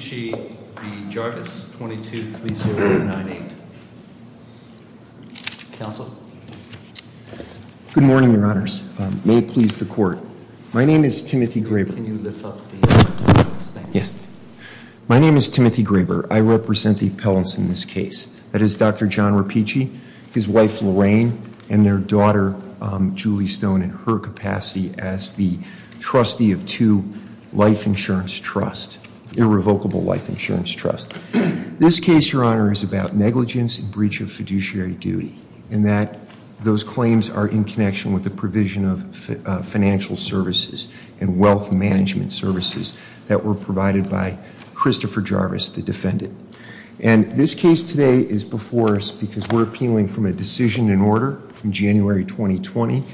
Good morning, your honors. May it please the court. My name is Timothy Graber. My name is Timothy Graber. I represent the appellants in this case. That is Dr. John Rapicci, his wife Lorraine, and their daughter Julie Stone in her capacity as the trustee of two life insurance trusts, irrevocable life insurance trust. This case, your honors, is about negligence and breach of fiduciary duty, and that those claims are in connection with the provision of financial services and wealth management services that were provided by Christopher Jarvis, the defendant. And this case today is before us because we're appealing from a decision in order from January 2020,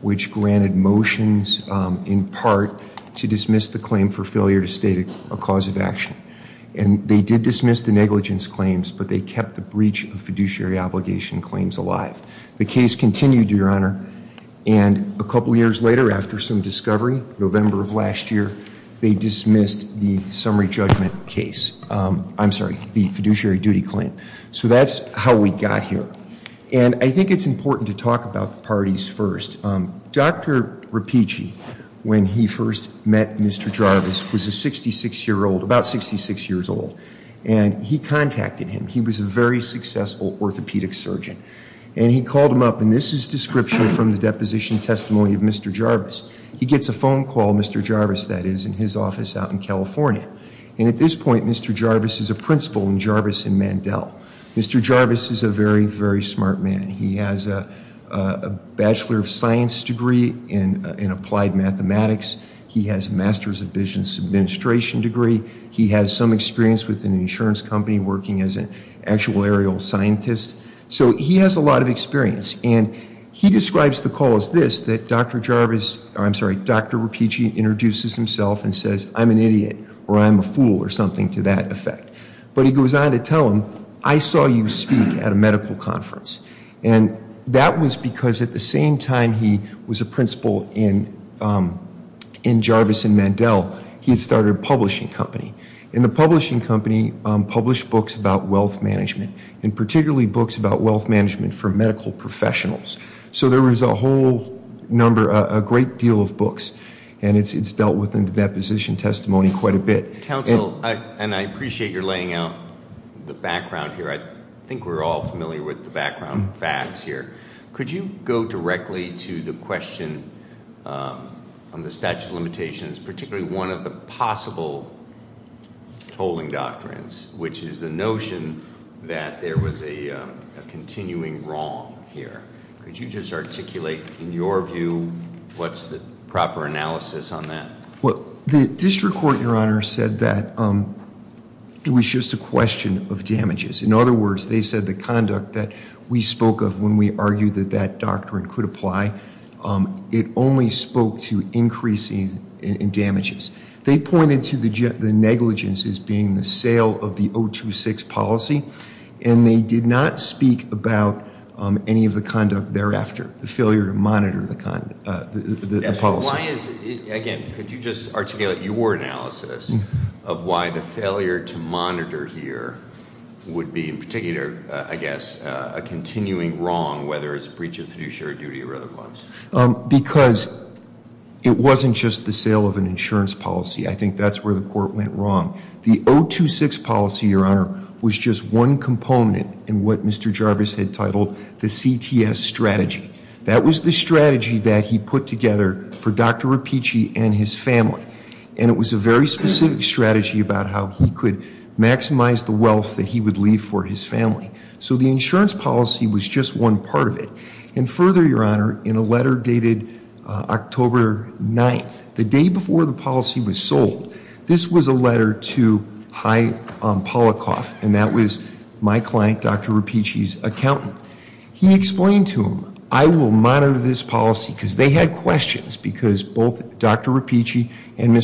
which granted motions in part to dismiss the claim for failure to state a cause of action. And they did dismiss the negligence claims, but they kept the breach of fiduciary obligation claims alive. The case continued, your honor, and a couple years later, after some discovery, November of last year, they dismissed the summary judgment case. I'm sorry, the fiduciary duty claim. So that's how we got here. And I think it's important to talk about the parties first. Dr. Rapicci, when he first met Mr. Jarvis, was a 66-year-old, about 66 years old. And he contacted him. He was a very successful orthopedic surgeon. And he called him up, and this is description from the deposition testimony of Mr. Jarvis. He gets a phone call, Mr. Jarvis, that is, in his office out in California. And at this point, Mr. Jarvis is a principal in Jarvis and Mandel. Mr. Jarvis is a very, very smart man. He has a bachelor of science degree in applied mathematics. He has a master's of business administration degree. He has some experience with an insurance company working as an actual aerial scientist. So he has a lot of experience. And he describes the call as this, that Dr. Jarvis, I'm sorry, Dr. Rapicci introduces himself and says, I'm an idiot, or I'm a fool, or something to that effect. But he goes on to tell him, I saw you speak at a medical conference. And that was because at the same time he was a principal in Jarvis and Mandel, he had started a publishing company. And the publishing company published books about wealth management, and particularly books about wealth management for medical professionals. So there was a whole number, a great deal of books. And it's dealt with in the deposition testimony quite a bit. Council, and I appreciate your laying out the background here. I think we're all familiar with the background facts here. Could you go directly to the question on the statute of limitations, particularly one of the possible tolling doctrines, which is the notion that there was a continuing wrong here. Could you just articulate in your view what's the proper analysis on that? Well, the district court, Your Honor, said that it was just a question of damages. In other words, they said the conduct that we spoke of when we argued that that doctrine could apply, it only spoke to increases in damages. They pointed to the negligence as being the sale of the 026 policy. And they did not speak about any of the conduct thereafter, the failure to monitor the policy. Again, could you just articulate your analysis of why the failure to monitor here would be in particular, I guess, a continuing wrong, whether it's a breach of fiduciary duty or other ones? Because it wasn't just the sale of an insurance policy. I think that's where the court went wrong. The 026 policy, Your Honor, was just one component in what Mr. Jarvis had titled the CTS strategy. That was the strategy that he put together for Dr. Repicci and his family. And it was a very specific strategy about how he could maximize the wealth that he would leave for his family. So the insurance policy was just one part of it. And further, Your Honor, in a letter dated October 9th, the day before the policy was sold, this was a letter to High Polikoff, and that was my client, Dr. Repicci's accountant. He explained to him, I will monitor this policy, because they had questions, because both Dr. Repicci and I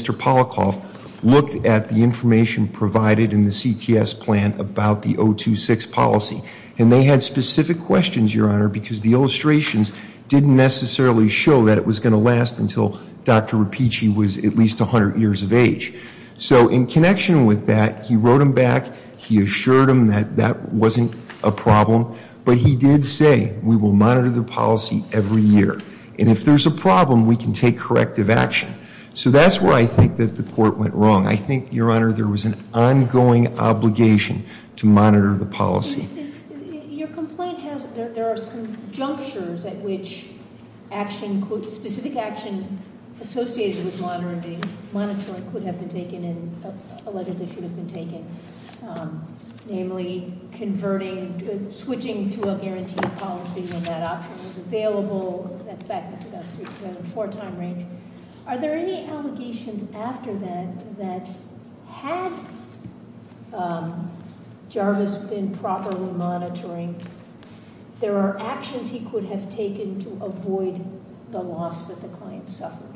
had information provided in the CTS plan about the 026 policy. And they had specific questions, Your Honor, because the illustrations didn't necessarily show that it was going to last until Dr. Repicci was at least 100 years of age. So in connection with that, he wrote them back. He assured them that that wasn't a problem. But he did say, we will monitor the policy every year. And if there's a problem, we can take corrective action. So that's where I think that the court went wrong. I think, Your Honor, there was an ongoing obligation to monitor the policy. Your complaint has, there are some junctures at which action, specific action associated with monitoring could have been taken and allegedly should have been taken. Namely, converting, switching to a guaranteed policy when that option was available. That's back to that three, four time range. Are there any allegations after that, that had Jarvis been properly monitoring, there are actions he could have taken to avoid the loss that the client suffered?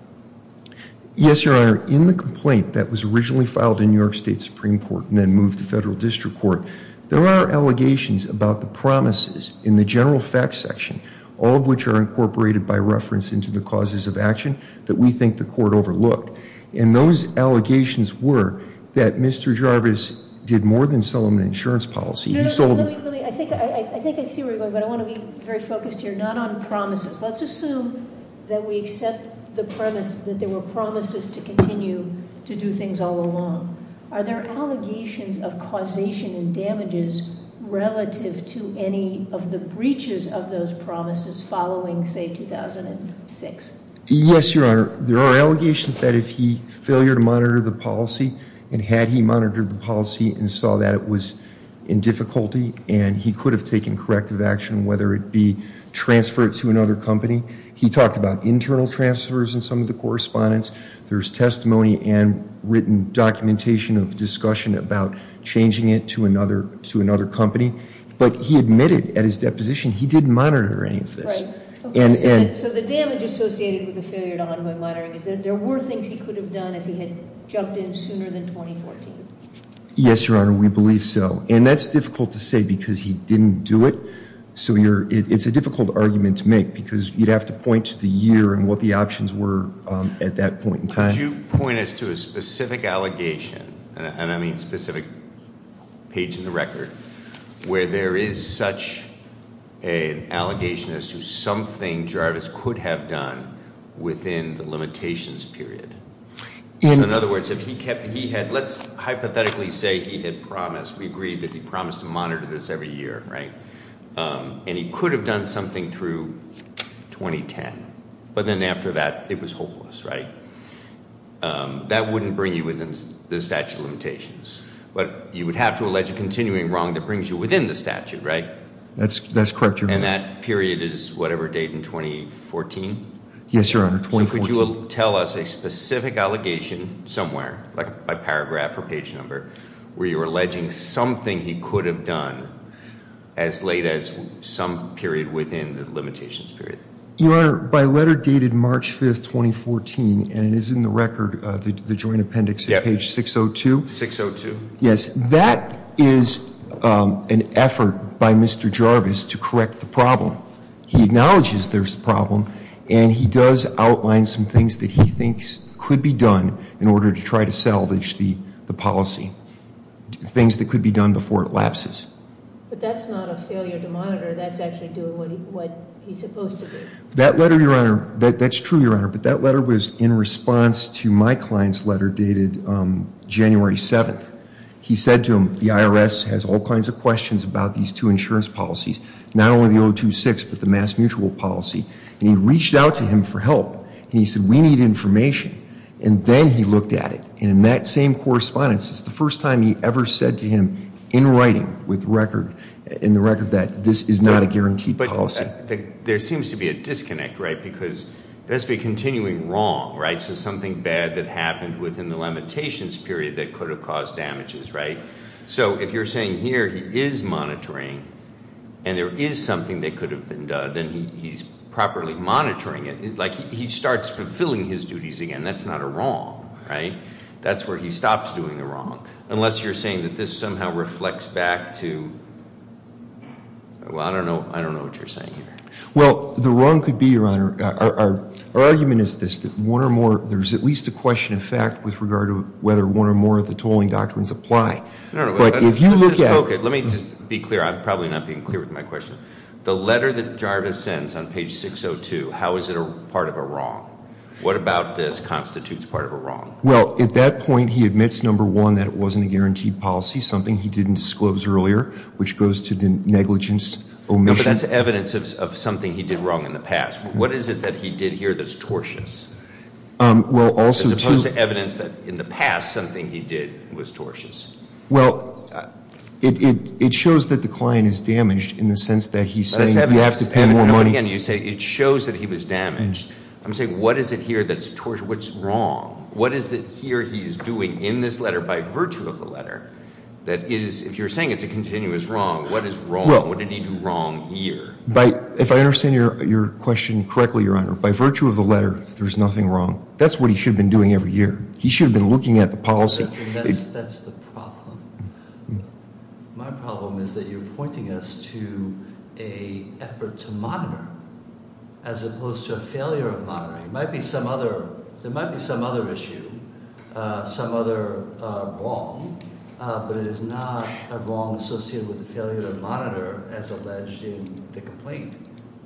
Yes, Your Honor. In the complaint that was originally filed in New York State Supreme Court and then moved to Federal District Court, there are allegations about the promises in the general facts section, all of which are in reference to the causes of action, that we think the court overlooked. And those allegations were that Mr. Jarvis did more than sell them an insurance policy. He sold them. I think I see where you're going, but I want to be very focused here, not on promises. Let's assume that we accept the premise that there were promises to continue to do things all along. Are there allegations of causation and damages relative to any of the breaches of those promises following, say, 2006? Yes, Your Honor. There are allegations that if he failed to monitor the policy, and had he monitored the policy and saw that it was in difficulty, and he could have taken corrective action, whether it be transfer it to another company. He talked about internal transfers in some of the correspondence. There's testimony and written documentation of discussion about changing it to another company. But he admitted at his deposition he didn't monitor any of this. So the damage associated with the failure to ongoing monitoring is that there were things he could have done if he had jumped in sooner than 2014? Yes, Your Honor, we believe so. And that's difficult to say because he didn't do it. So it's a difficult argument to make because you'd have to point to the year and what the options were at that point in time. Could you point us to a specific allegation, and I mean specific page in the record, where there is such an allegation as to something Jarvis could have done within the limitations period? In other words, let's hypothetically say he had promised, we agree that he promised to monitor this every year, right? And he could have done something through 2010. But then after that, it was hopeless, right? That wouldn't bring you within the statute of limitations. But you would have to allege a continuing wrong that brings you within the statute, right? That's correct, Your Honor. And that period is whatever date in 2014? Yes, Your Honor, 2014. So could you tell us a specific allegation somewhere, like by paragraph or page number, where you're alleging something he could have done as late as some period within the limitations period? Your Honor, by letter dated March 5th, 2014, and it is in the record, the joint appendix at page 602. Yes, that is an effort by Mr. Jarvis to correct the problem. He acknowledges there's a problem, and he does outline some things that he thinks could be done in order to try to salvage the policy, things that could be done before it lapses. But that's not a failure to monitor. That's actually doing what he's supposed to do. That letter, Your Honor, that's true, Your Honor, but that letter was in response to my client's letter dated January 7th. He said to him, the IRS has all kinds of questions about these two insurance policies, not only the 026, but the mass mutual policy. And he reached out to him for help. And he said, we need information. And then he looked at it. And in that same correspondence, it's the first time he ever said to him, in writing, with record, in the record, that this is not a guaranteed policy. But there seems to be a disconnect, right? Because there must be a continuing wrong, right? So something bad that happened within the limitations period that could have caused damages, right? So if you're saying here he is monitoring, and there is something that could have been done, and he's properly monitoring it, like he starts fulfilling his duties again, that's not a wrong, right? That's where he stops doing the wrong. Unless you're saying that this somehow reflects back to, well, I don't know what you're saying here. Well, the wrong could be, Your Honor, our argument is this, that one or more, there's at least a question of fact with regard to whether one or more of the tolling doctrines apply. But if you look at it. Okay, let me just be clear. I'm probably not being clear with my question. The letter that Jarvis sends on page 602, how is it part of a wrong? What about this constitutes part of a wrong? Well, at that point, he admits, number one, that it wasn't a guaranteed policy, something he didn't disclose earlier, which goes to the negligence omission. No, but that's evidence of something he did wrong in the past. What is it that he did here that's tortious? Well, also to. As opposed to evidence that in the past something he did was tortious. Well, it shows that the client is damaged in the sense that he's saying you have to pay more money. And again, you say it shows that he was damaged. I'm saying what is it here that's tortious? What's wrong? What is it here he's doing in this letter by virtue of the letter that is, if you're saying it's a continuous wrong, what is wrong? What did he do wrong here? If I understand your question correctly, Your Honor, by virtue of the letter, there's nothing wrong. That's what he should have been doing every year. He should have been looking at the policy. That's the problem. My problem is that you're pointing us to a effort to monitor as opposed to a failure of monitoring. There might be some other issue, some other wrong, but it is not a wrong associated with the failure to monitor as alleged in the complaint.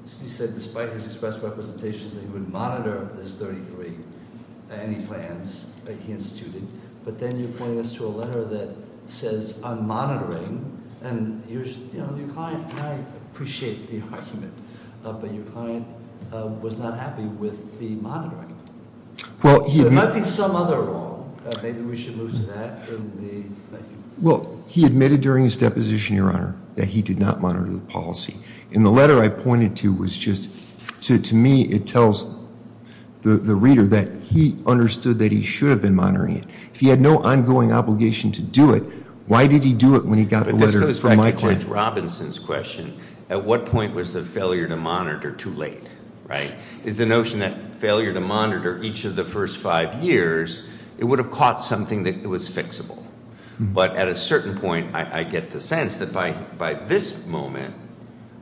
He said despite his express representations that he would monitor this 33, any plans that he instituted. But then you're pointing us to a letter that says I'm monitoring, and your client might appreciate the argument, but your client was not happy with the monitoring. There might be some other wrong. Maybe we should move to that. Well, he admitted during his deposition, Your Honor, that he did not monitor the policy. And the letter I pointed to was just, to me, it tells the reader that he understood that he should have been monitoring it. If he had no ongoing obligation to do it, why did he do it when he got the letter from my client? This goes back to Judge Robinson's question. At what point was the failure to monitor too late, right? Is the notion that failure to monitor each of the first five years, it would have caught something that was fixable. But at a certain point, I get the sense that by this moment,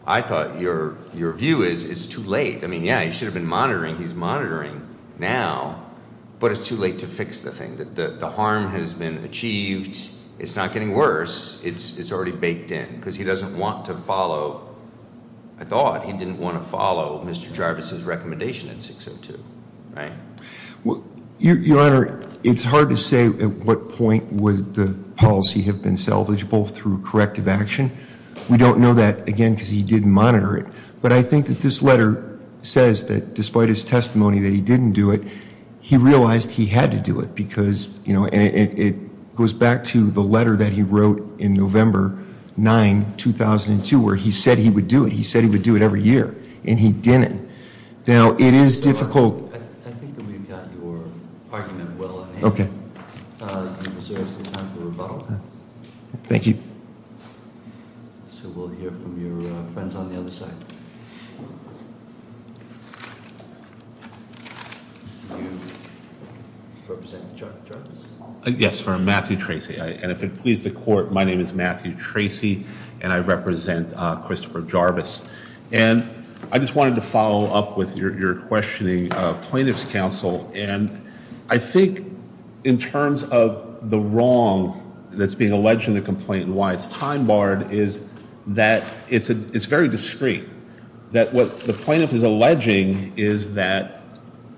I thought your view is it's too late. I mean, yeah, he should have been monitoring. He's monitoring now. But it's too late to fix the thing. The harm has been achieved. It's not getting worse. It's already baked in. Because he doesn't want to follow, I thought, he didn't want to follow Mr. Jarvis's recommendation in 602, right? Well, Your Honor, it's hard to say at what point would the policy have been salvageable through corrective action. We don't know that, again, because he didn't monitor it. But I think that this letter says that despite his testimony that he didn't do it, he realized he had to do it. Because, you know, it goes back to the letter that he wrote in November 9, 2002, where he said he would do it. He said he would do it every year. And he didn't. Now, it is on the other side. You represent Jarvis? Yes, for Matthew Tracy. And if it pleases the court, my name is Matthew Tracy, and I represent Christopher Jarvis. And I just wanted to follow up with your questioning of plaintiff's counsel. And I think in terms of the wrong that's being alleged in the discreet, that what the plaintiff is alleging is that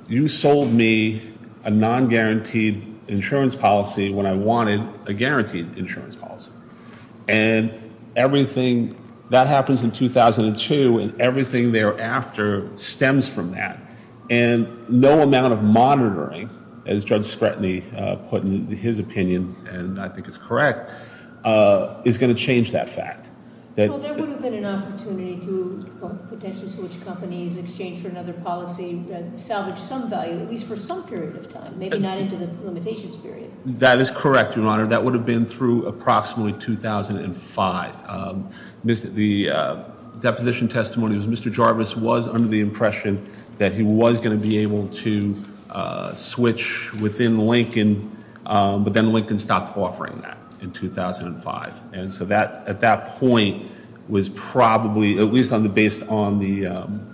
you sold me a non-guaranteed insurance policy when I wanted a guaranteed insurance policy. And everything that happens in 2002 and everything thereafter stems from that. And no amount of monitoring, as Judge Scretany put in his opinion, and I think it's correct, is going to change that fact. Well, there would have been an opportunity to potentially switch companies, exchange for another policy, salvage some value, at least for some period of time, maybe not into the limitations period. That is correct, Your Honor. That would have been through approximately 2005. The deposition testimony was that Mr. Jarvis was under the impression that he was going to be able to switch within Lincoln, but then Lincoln stopped offering that in 2005. And so at that point, was probably, at least based on the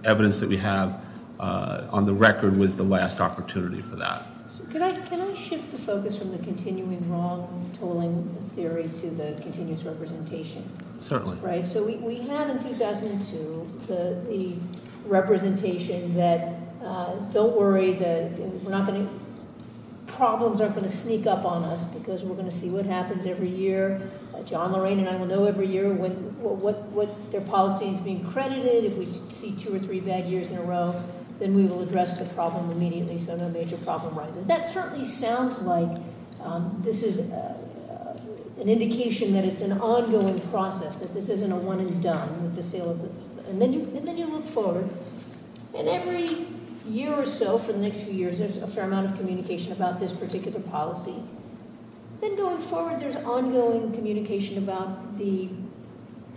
evidence that we have on the record, was the last opportunity for that. Can I shift the focus from the continuing wrong-tolling theory to the continuous representation? Certainly. So we had in 2002 the representation that don't worry, problems aren't going to sneak up on us because we're going to see what happens every year. John Lorraine and I will know every year what their policy is being credited. If we see two or three bad years in a row, then we will address the problem immediately so no major problem rises. That certainly sounds like an indication that it's an ongoing process, that this isn't a one and done. And then you look forward, and every year or so for the next few years, there's a fair amount of communication about this particular policy. Then going forward, there's ongoing communication about the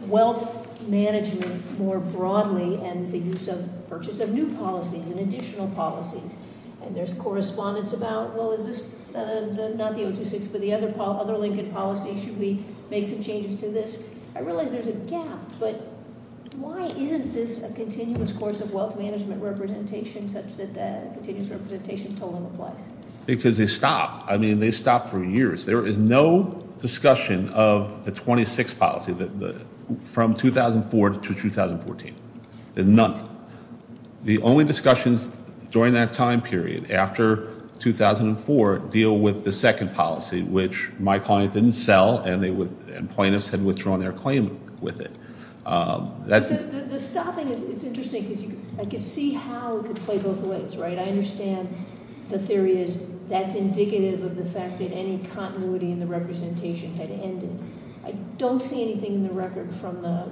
wealth management more broadly and the use of new policies and additional policies. And there's correspondence about, well, is this not the 026, but the other Lincoln policy? Should we make some changes to this? I realize there's a gap, but why isn't this a continuous course of wealth management representation such that the continuous representation total applies? Because they stopped. I mean, they stopped for years. There is no discussion of the 026 policy from 2004 to 2014. There's none. The only discussions during that time period after 2004 deal with the second policy, which my client didn't sell and plaintiffs had withdrawn their claim with it. The stopping is interesting because I can see how it could play both ways, right? I understand the theory is that's indicative of the fact that any continuity in the representation had ended. I don't see anything in the record from the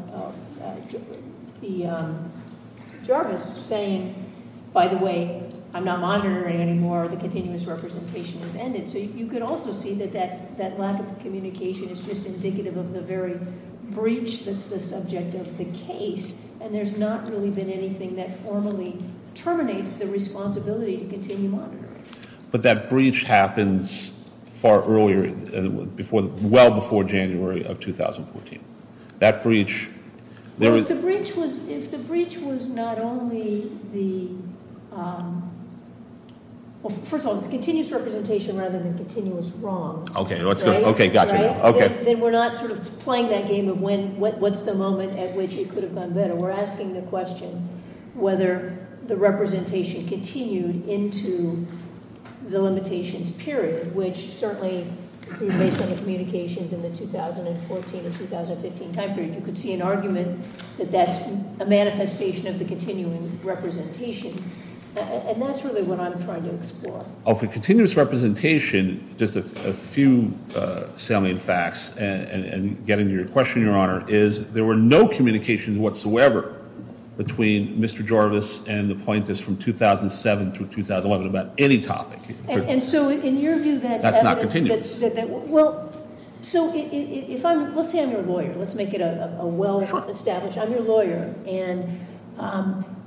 Jarvis saying, by the way, I'm not monitoring anymore. The continuous representation has ended. So you could also see that that lack of communication is just indicative of the very breach that's the subject of the case, and there's not really been anything that formally terminates the responsibility to continue monitoring. But that breach happens far earlier, well before January of 2014. That breach- Well, if the breach was not only the, well, first of all, it's continuous representation rather than continuous wrongs. Then we're not sort of playing that game of what's the moment at which it could have gone better. We're asking the question whether the representation continued into the limitations period, which certainly, based on the communications in the 2014 and 2015 time period, you could see an argument that that's a manifestation of the continuing representation. And that's really what I'm trying to explore. Oh, for continuous representation, just a few salient facts, and getting to your question, Your Honor, is there were no communications whatsoever between Mr. Jarvis and the pointers from 2007 through 2011 about any topic. And so in your view, that's evidence- That's not continuous. Well, so if I'm, let's say I'm your lawyer, and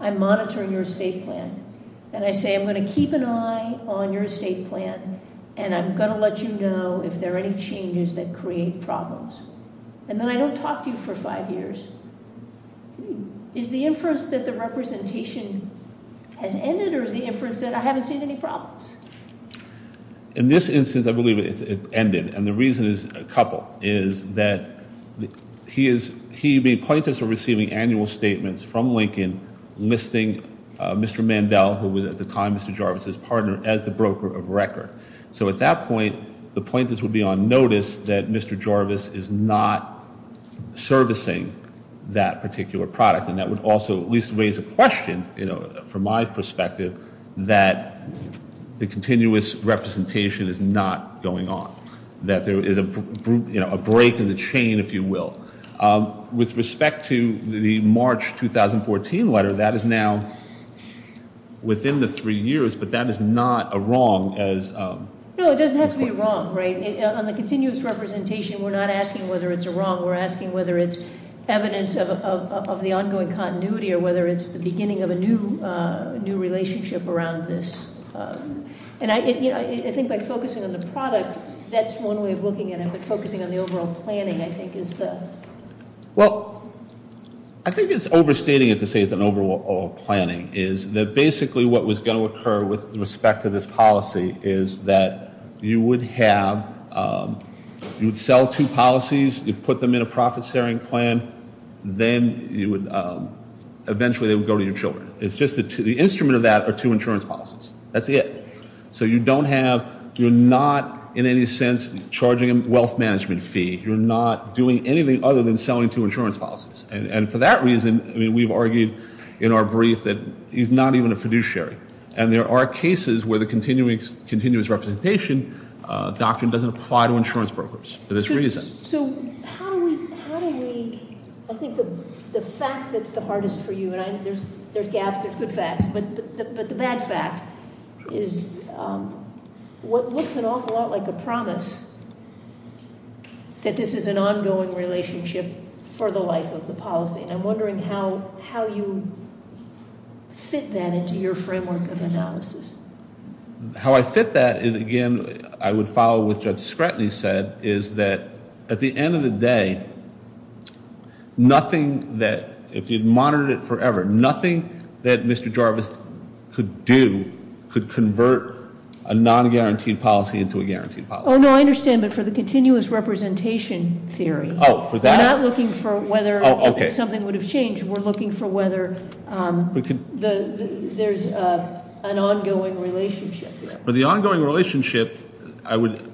I'm monitoring your estate plan. And I say, I'm going to keep an eye on your estate plan, and I'm going to let you know if there are any changes that create problems. And then I don't talk to you for five years. Is the inference that the representation has ended, or is the inference that I haven't seen any problems? In this instance, I believe it's ended. And the reason is a couple, is that he is, he, the pointers are receiving annual statements from Lincoln listing Mr. Mandel, who was at the time Mr. Jarvis' partner, as the broker of record. So at that point, the pointers would be on notice that Mr. Jarvis is not servicing that particular product. And that would also at least raise a question, you know, from my perspective, that the continuous representation is not going on. That there is a break in the chain, if you will. With respect to the March 2014 letter, that is now within the three years, but that is not a wrong as- No, it doesn't have to be a wrong, right? On the continuous representation, we're not asking whether it's a wrong. We're asking whether it's evidence of the ongoing continuity, or whether it's the beginning of a new relationship around this. And I think by focusing on the product, that's one way of looking at it. But focusing on the overall planning, I think, is the- Well, I think it's overstating it to say it's an overall planning, is that basically what was going to occur with respect to this policy is that you would have- You would sell two policies, you'd put them in a profit sharing plan, then you would- Eventually they would go to your children. It's just that the instrument of that are two insurance policies. That's it. So you don't have- You're not in any sense charging a wealth management fee. You're not doing anything other than selling two insurance policies. And for that reason, we've argued in our brief that he's not even a fiduciary. And there are cases where the continuous representation doctrine doesn't apply to insurance brokers for this reason. So how do we- I think the fact that's the hardest for you, and there's gaps, there's good facts, but the bad fact is what looks an awful lot like a promise that this is an ongoing relationship for the life of the policy. And I'm wondering how you fit that into your framework of analysis. How I fit that is, again, I would follow what Judge Scratley said, is that at the end of the day, nothing that- If you'd monitored it forever, nothing that Mr. Jarvis could do could convert a non-guaranteed policy into a guaranteed policy. Oh, no, I understand, but for the continuous representation theory. We're not looking for whether something would have changed. We're looking for whether there's an ongoing relationship. For the ongoing relationship, I would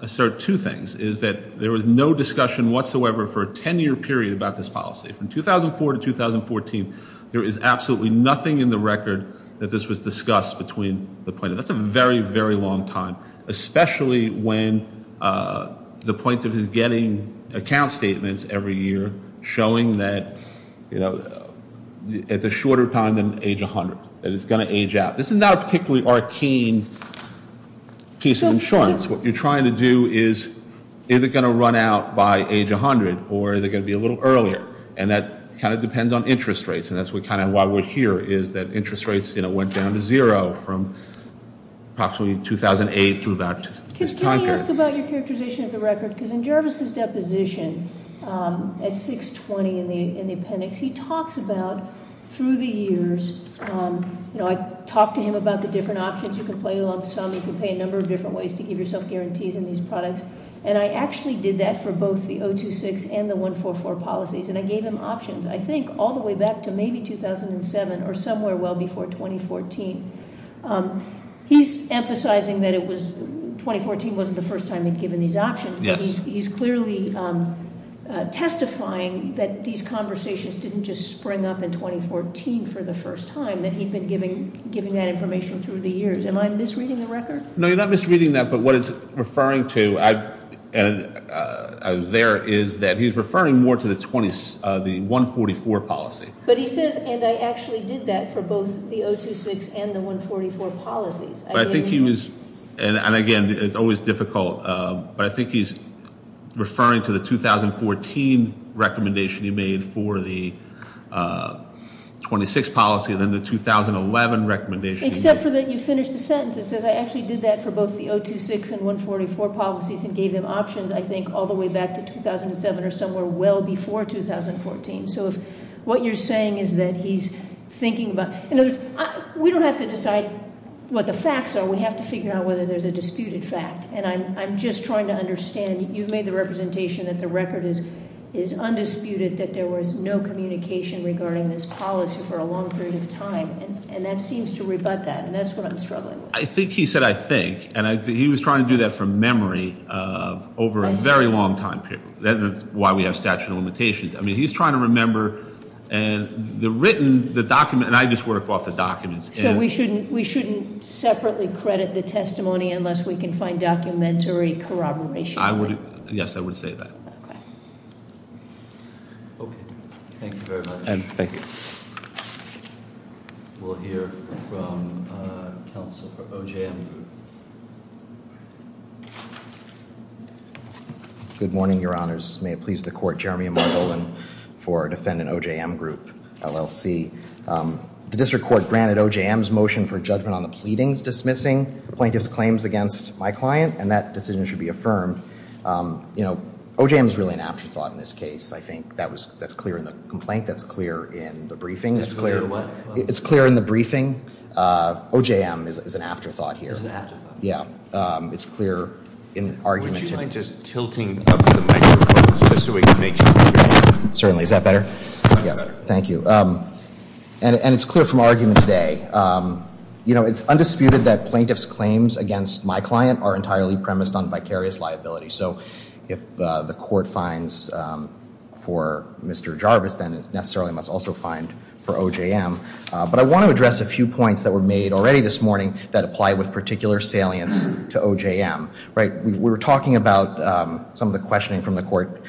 assert two things, is that there was no discussion whatsoever for a 10-year period about this policy. From 2004 to 2014, there is absolutely nothing in the record that this was discussed between the plaintiff. That's a very, very long time, especially when the plaintiff is getting account statements every year showing that it's a shorter time than age 100, that it's going to age out. This is not a particularly arcane piece of insurance. What you're trying to do is, is it going to run out by age 100, or is it going to be a little earlier? And that kind of depends on interest rates, and that's kind of why we're here, is that interest rates went down to zero from approximately 2008 through about this time period. Can I ask about your characterization of the record? Because in Jarvis' deposition at 620 in the appendix, he talks about, through the years, I talked to him about the different options. You can pay a lump sum, you can pay a number of different ways to give yourself guarantees in these products. And I actually did that for both the 026 and the 144 policies, and I gave him options. I think all the way back to maybe 2007, or somewhere well before 2014. He's emphasizing that 2014 wasn't the first time he'd given these options. He's clearly testifying that these conversations didn't just spring up in 2014 for the first time, that he'd been giving that information through the years. Am I misreading the record? No, you're not misreading that, but what it's referring to, and I was there, is that he's referring more to the 144 policy. But he says, and I actually did that for both the 026 and the 144 policies. And again, it's always difficult, but I think he's referring to the 2014 recommendation he made for the 26 policy and then the 2011 recommendation. Except for that you finished the sentence. It says I actually did that for both the 026 and 144 policies and gave him options, I think, all the way back to 2007 or somewhere well before 2014. So if what you're saying is that he's thinking about, in other words, we don't have to decide what the facts are. We have to figure out whether there's a disputed fact. And I'm just trying to understand, you've made the representation that the record is undisputed, that there was no communication regarding this policy for a long period of time, and that seems to over a very long time period. That's why we have statute of limitations. I mean, he's trying to remember the written, the document, and I just worked off the documents. So we shouldn't separately credit the testimony unless we can find documentary corroboration. Yes, I would say that. Okay. Thank you very much. And thank you. We'll hear from counsel for OJM Group. Good morning, your honors. May it please the court, Jeremy Margolin for defendant OJM Group, LLC. The district court granted OJM's motion for judgment on the pleadings dismissing plaintiff's claims against my client, and that decision should be affirmed. You know, OJM is really an afterthought in this case. I think that's clear in the complaint. That's clear in the briefing. It's clear in the briefing. OJM is an afterthought here. It's clear in argument. Would you mind just tilting up the microphone just so we can make sure? Certainly. Is that better? Yes. Thank you. And it's clear from argument today. You know, it's undisputed that plaintiff's claims against my client are entirely premised on vicarious liability. So if the court finds for Mr. Jarvis, then it necessarily must also find for OJM. But I want to address a few points that were made already this morning that apply with particular salience to OJM, right? We were talking about some of the questioning from the court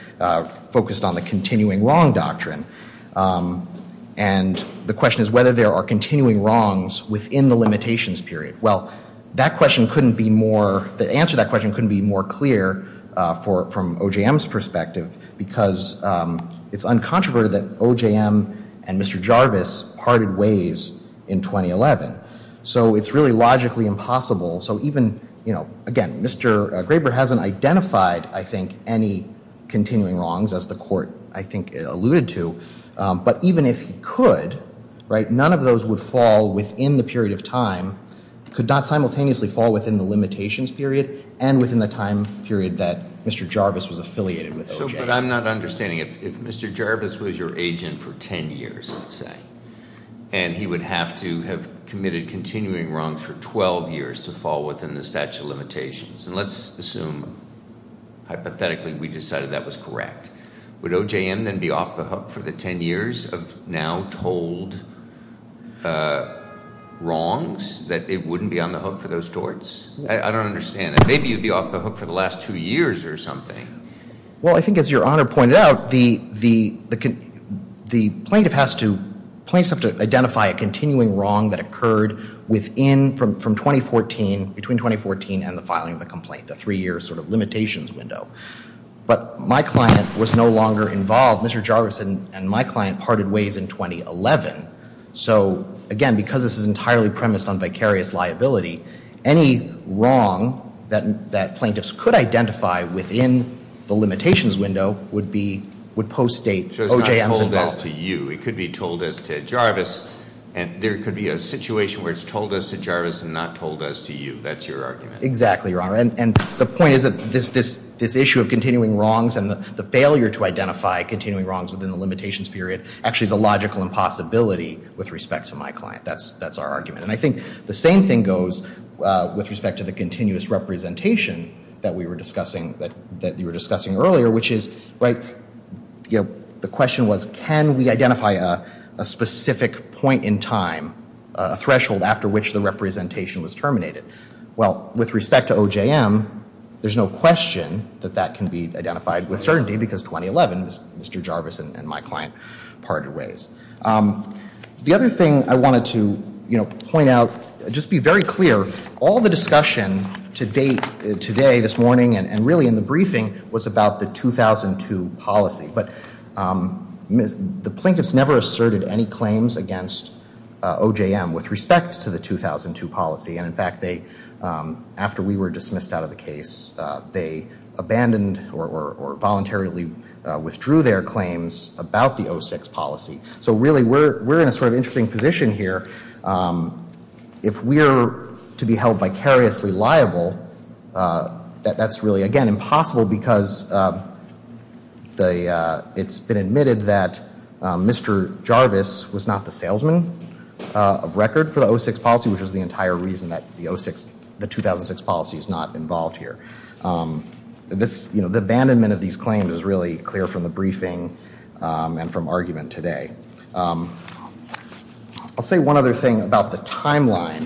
focused on the continuing wrong doctrine. And the question is whether there are continuing wrongs within the limitations period. Well, that question couldn't be more, the answer to that question couldn't be more clear from OJM's perspective because it's uncontroverted that OJM and Mr. Jarvis parted ways in 2011. So it's really logically impossible. So even, you know, again, Mr. Graber hasn't identified, I think, any continuing wrongs as the court, I think, alluded to. But even if he could, right, none of those would fall within the period of time, could not simultaneously fall within the limitations period and within the time period that Mr. Jarvis was affiliated with OJM. But I'm not understanding. If Mr. Jarvis was your agent for 10 or 12 years to fall within the statute of limitations, and let's assume hypothetically we decided that was correct, would OJM then be off the hook for the 10 years of now told wrongs that it wouldn't be on the hook for those courts? I don't understand that. Maybe you'd be off the hook for the last two years or something. Well, I think as your Honor pointed out, the plaintiff has to, plaintiffs have to identify a continuing wrong that occurred within, from 2014, between 2014 and the filing of the complaint, the three-year sort of limitations window. But my client was no longer involved. Mr. Jarvis and my client parted ways in 2011. So again, because this is entirely premised on vicarious liability, any wrong that plaintiffs could identify within the limitations window would be, would post-date OJM's involvement. So it's not told as to you. It could be told as to Jarvis. And there could be a situation where it's told as to Jarvis and not told as to you. That's your argument. Exactly, Your Honor. And the point is that this issue of continuing wrongs and the failure to identify continuing wrongs within the limitations period actually is a logical impossibility with respect to my client. That's our argument. And I think the same thing goes with respect to the continuous representation that we were discussing, that you were discussing earlier, which is the question was, can we identify a specific point in time, a threshold after which the representation was terminated? Well, with respect to OJM, there's no question that that can be identified with certainty because 2011, Mr. Jarvis and my client parted ways. The other thing I wanted to point out, just be very clear, all the discussion to date, today, this morning, and really in the briefing, was about the 2002 policy. But the plaintiffs never asserted any claims against OJM with respect to the 2002 policy. And in fact, after we were dismissed out of the case, they abandoned or voluntarily withdrew their claims about the 06 policy. So really we're in a sort of interesting position here. If we're to be held vicariously liable, that's really, again, impossible because it's been admitted that Mr. Jarvis was not the salesman of record for the 06 policy, which is the entire reason that the 2006 policy is not involved here. The abandonment of these claims is really clear from the briefing and from argument today. I'll say one other thing about the timeline.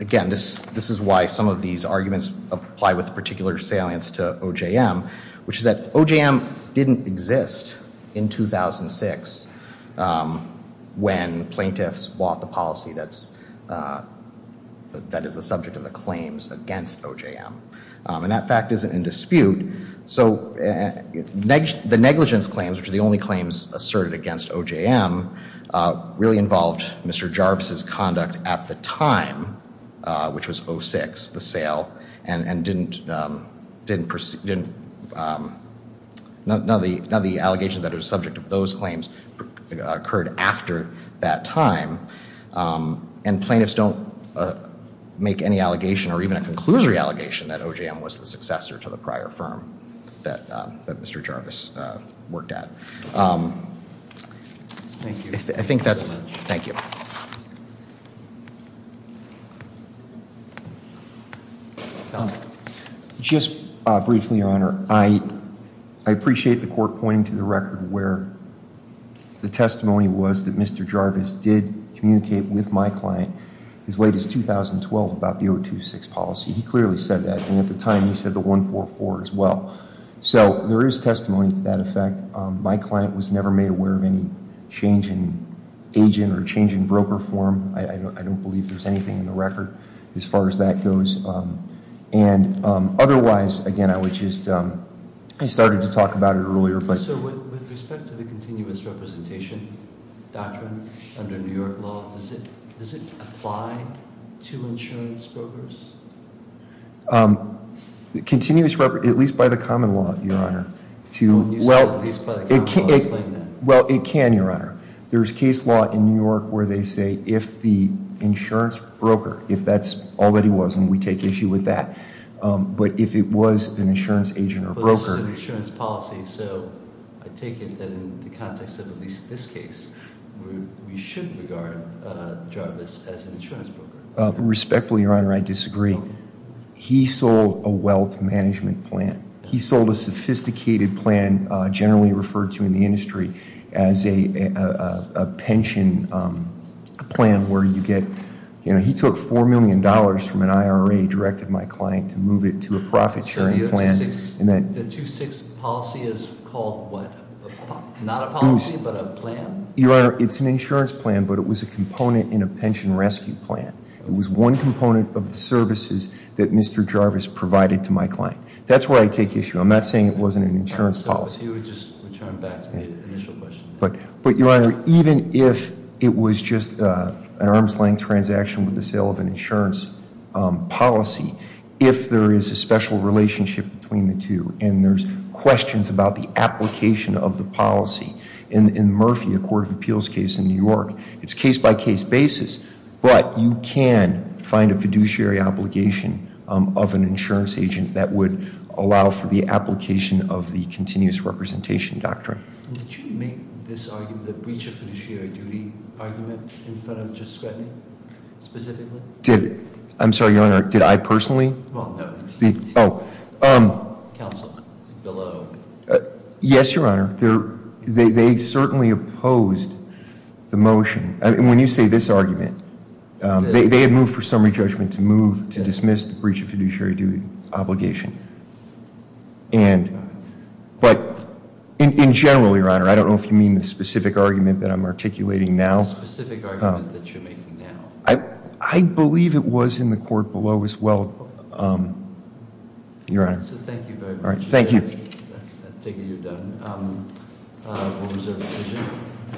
Again, this is why some of these arguments apply with particular salience to OJM, which is that OJM didn't exist in 2006 when plaintiffs bought the policy that is the subject of the claims against OJM. And that fact isn't in dispute. So the negligence of these claims, which are the only claims asserted against OJM, really involved Mr. Jarvis' conduct at the time, which was 06, the sale, and none of the allegations that are the subject of those claims occurred after that time. And plaintiffs don't make any allegation or even a point at. I think that's it. Thank you. Just briefly, Your Honor, I appreciate the Court pointing to the record where the testimony was that Mr. Jarvis did communicate with my client as late as 2012 about the 026 policy. He clearly said that, and at the time he said the 144 as well. So there is testimony to that effect. My client was never made aware of any change in agent or change in broker form. I don't believe there's anything in the record as far as that goes. And otherwise, again, I started to talk about it earlier. So with respect to the continuous representation doctrine under New York law, does it apply to insurance brokers? Continuous representation, at least by the common law, Your Honor. Well, it can, Your Honor. There's case law in New York where they say if the insurance broker, if that's all that he was, and we take issue with that, but if it was an insurance agent or broker. But this is an insurance policy, so I take it that in the context of at least this case, we shouldn't regard Jarvis as an insurance broker. Respectfully, Your Honor, I disagree. He sold a wealth management plan. He sold a sophisticated plan generally referred to in the industry as a pension plan where you get, you know, he took $4 million from an IRA, directed my client to move it to a profit sharing plan. The 2-6 policy is called what? Not a policy, but a plan? Your Honor, it's an insurance plan, but it was a component in a pension rescue plan. It was one component of the services that Mr. Jarvis provided to my client. That's where I take issue. I'm not saying it wasn't an insurance policy. He would just return back to the initial question. But, Your Honor, even if it was just an arm's length transaction with the sale of an insurance policy, if there is a special relationship between the two and there's questions about the application of the policy in Murphy, a court of appeals case in New York, it's case by case basis, but you can find a fiduciary obligation of an insurance agent that would allow for the application of the continuous representation doctrine. Did you make this argument, the breach of fiduciary duty argument in front of Justice Scruttony, specifically? I'm sorry, Your Honor, did I personally? Well, no. Counsel, below. Yes, Your Honor. They certainly opposed the motion. When you say this argument, they had moved for summary judgment to move to dismiss the breach of fiduciary duty obligation. But, in general, Your Honor, I don't know if you mean the specific argument that I'm articulating now. The specific argument that you're making now. I believe it was in the court below as well. Your Honor. Thank you very much. Thank you.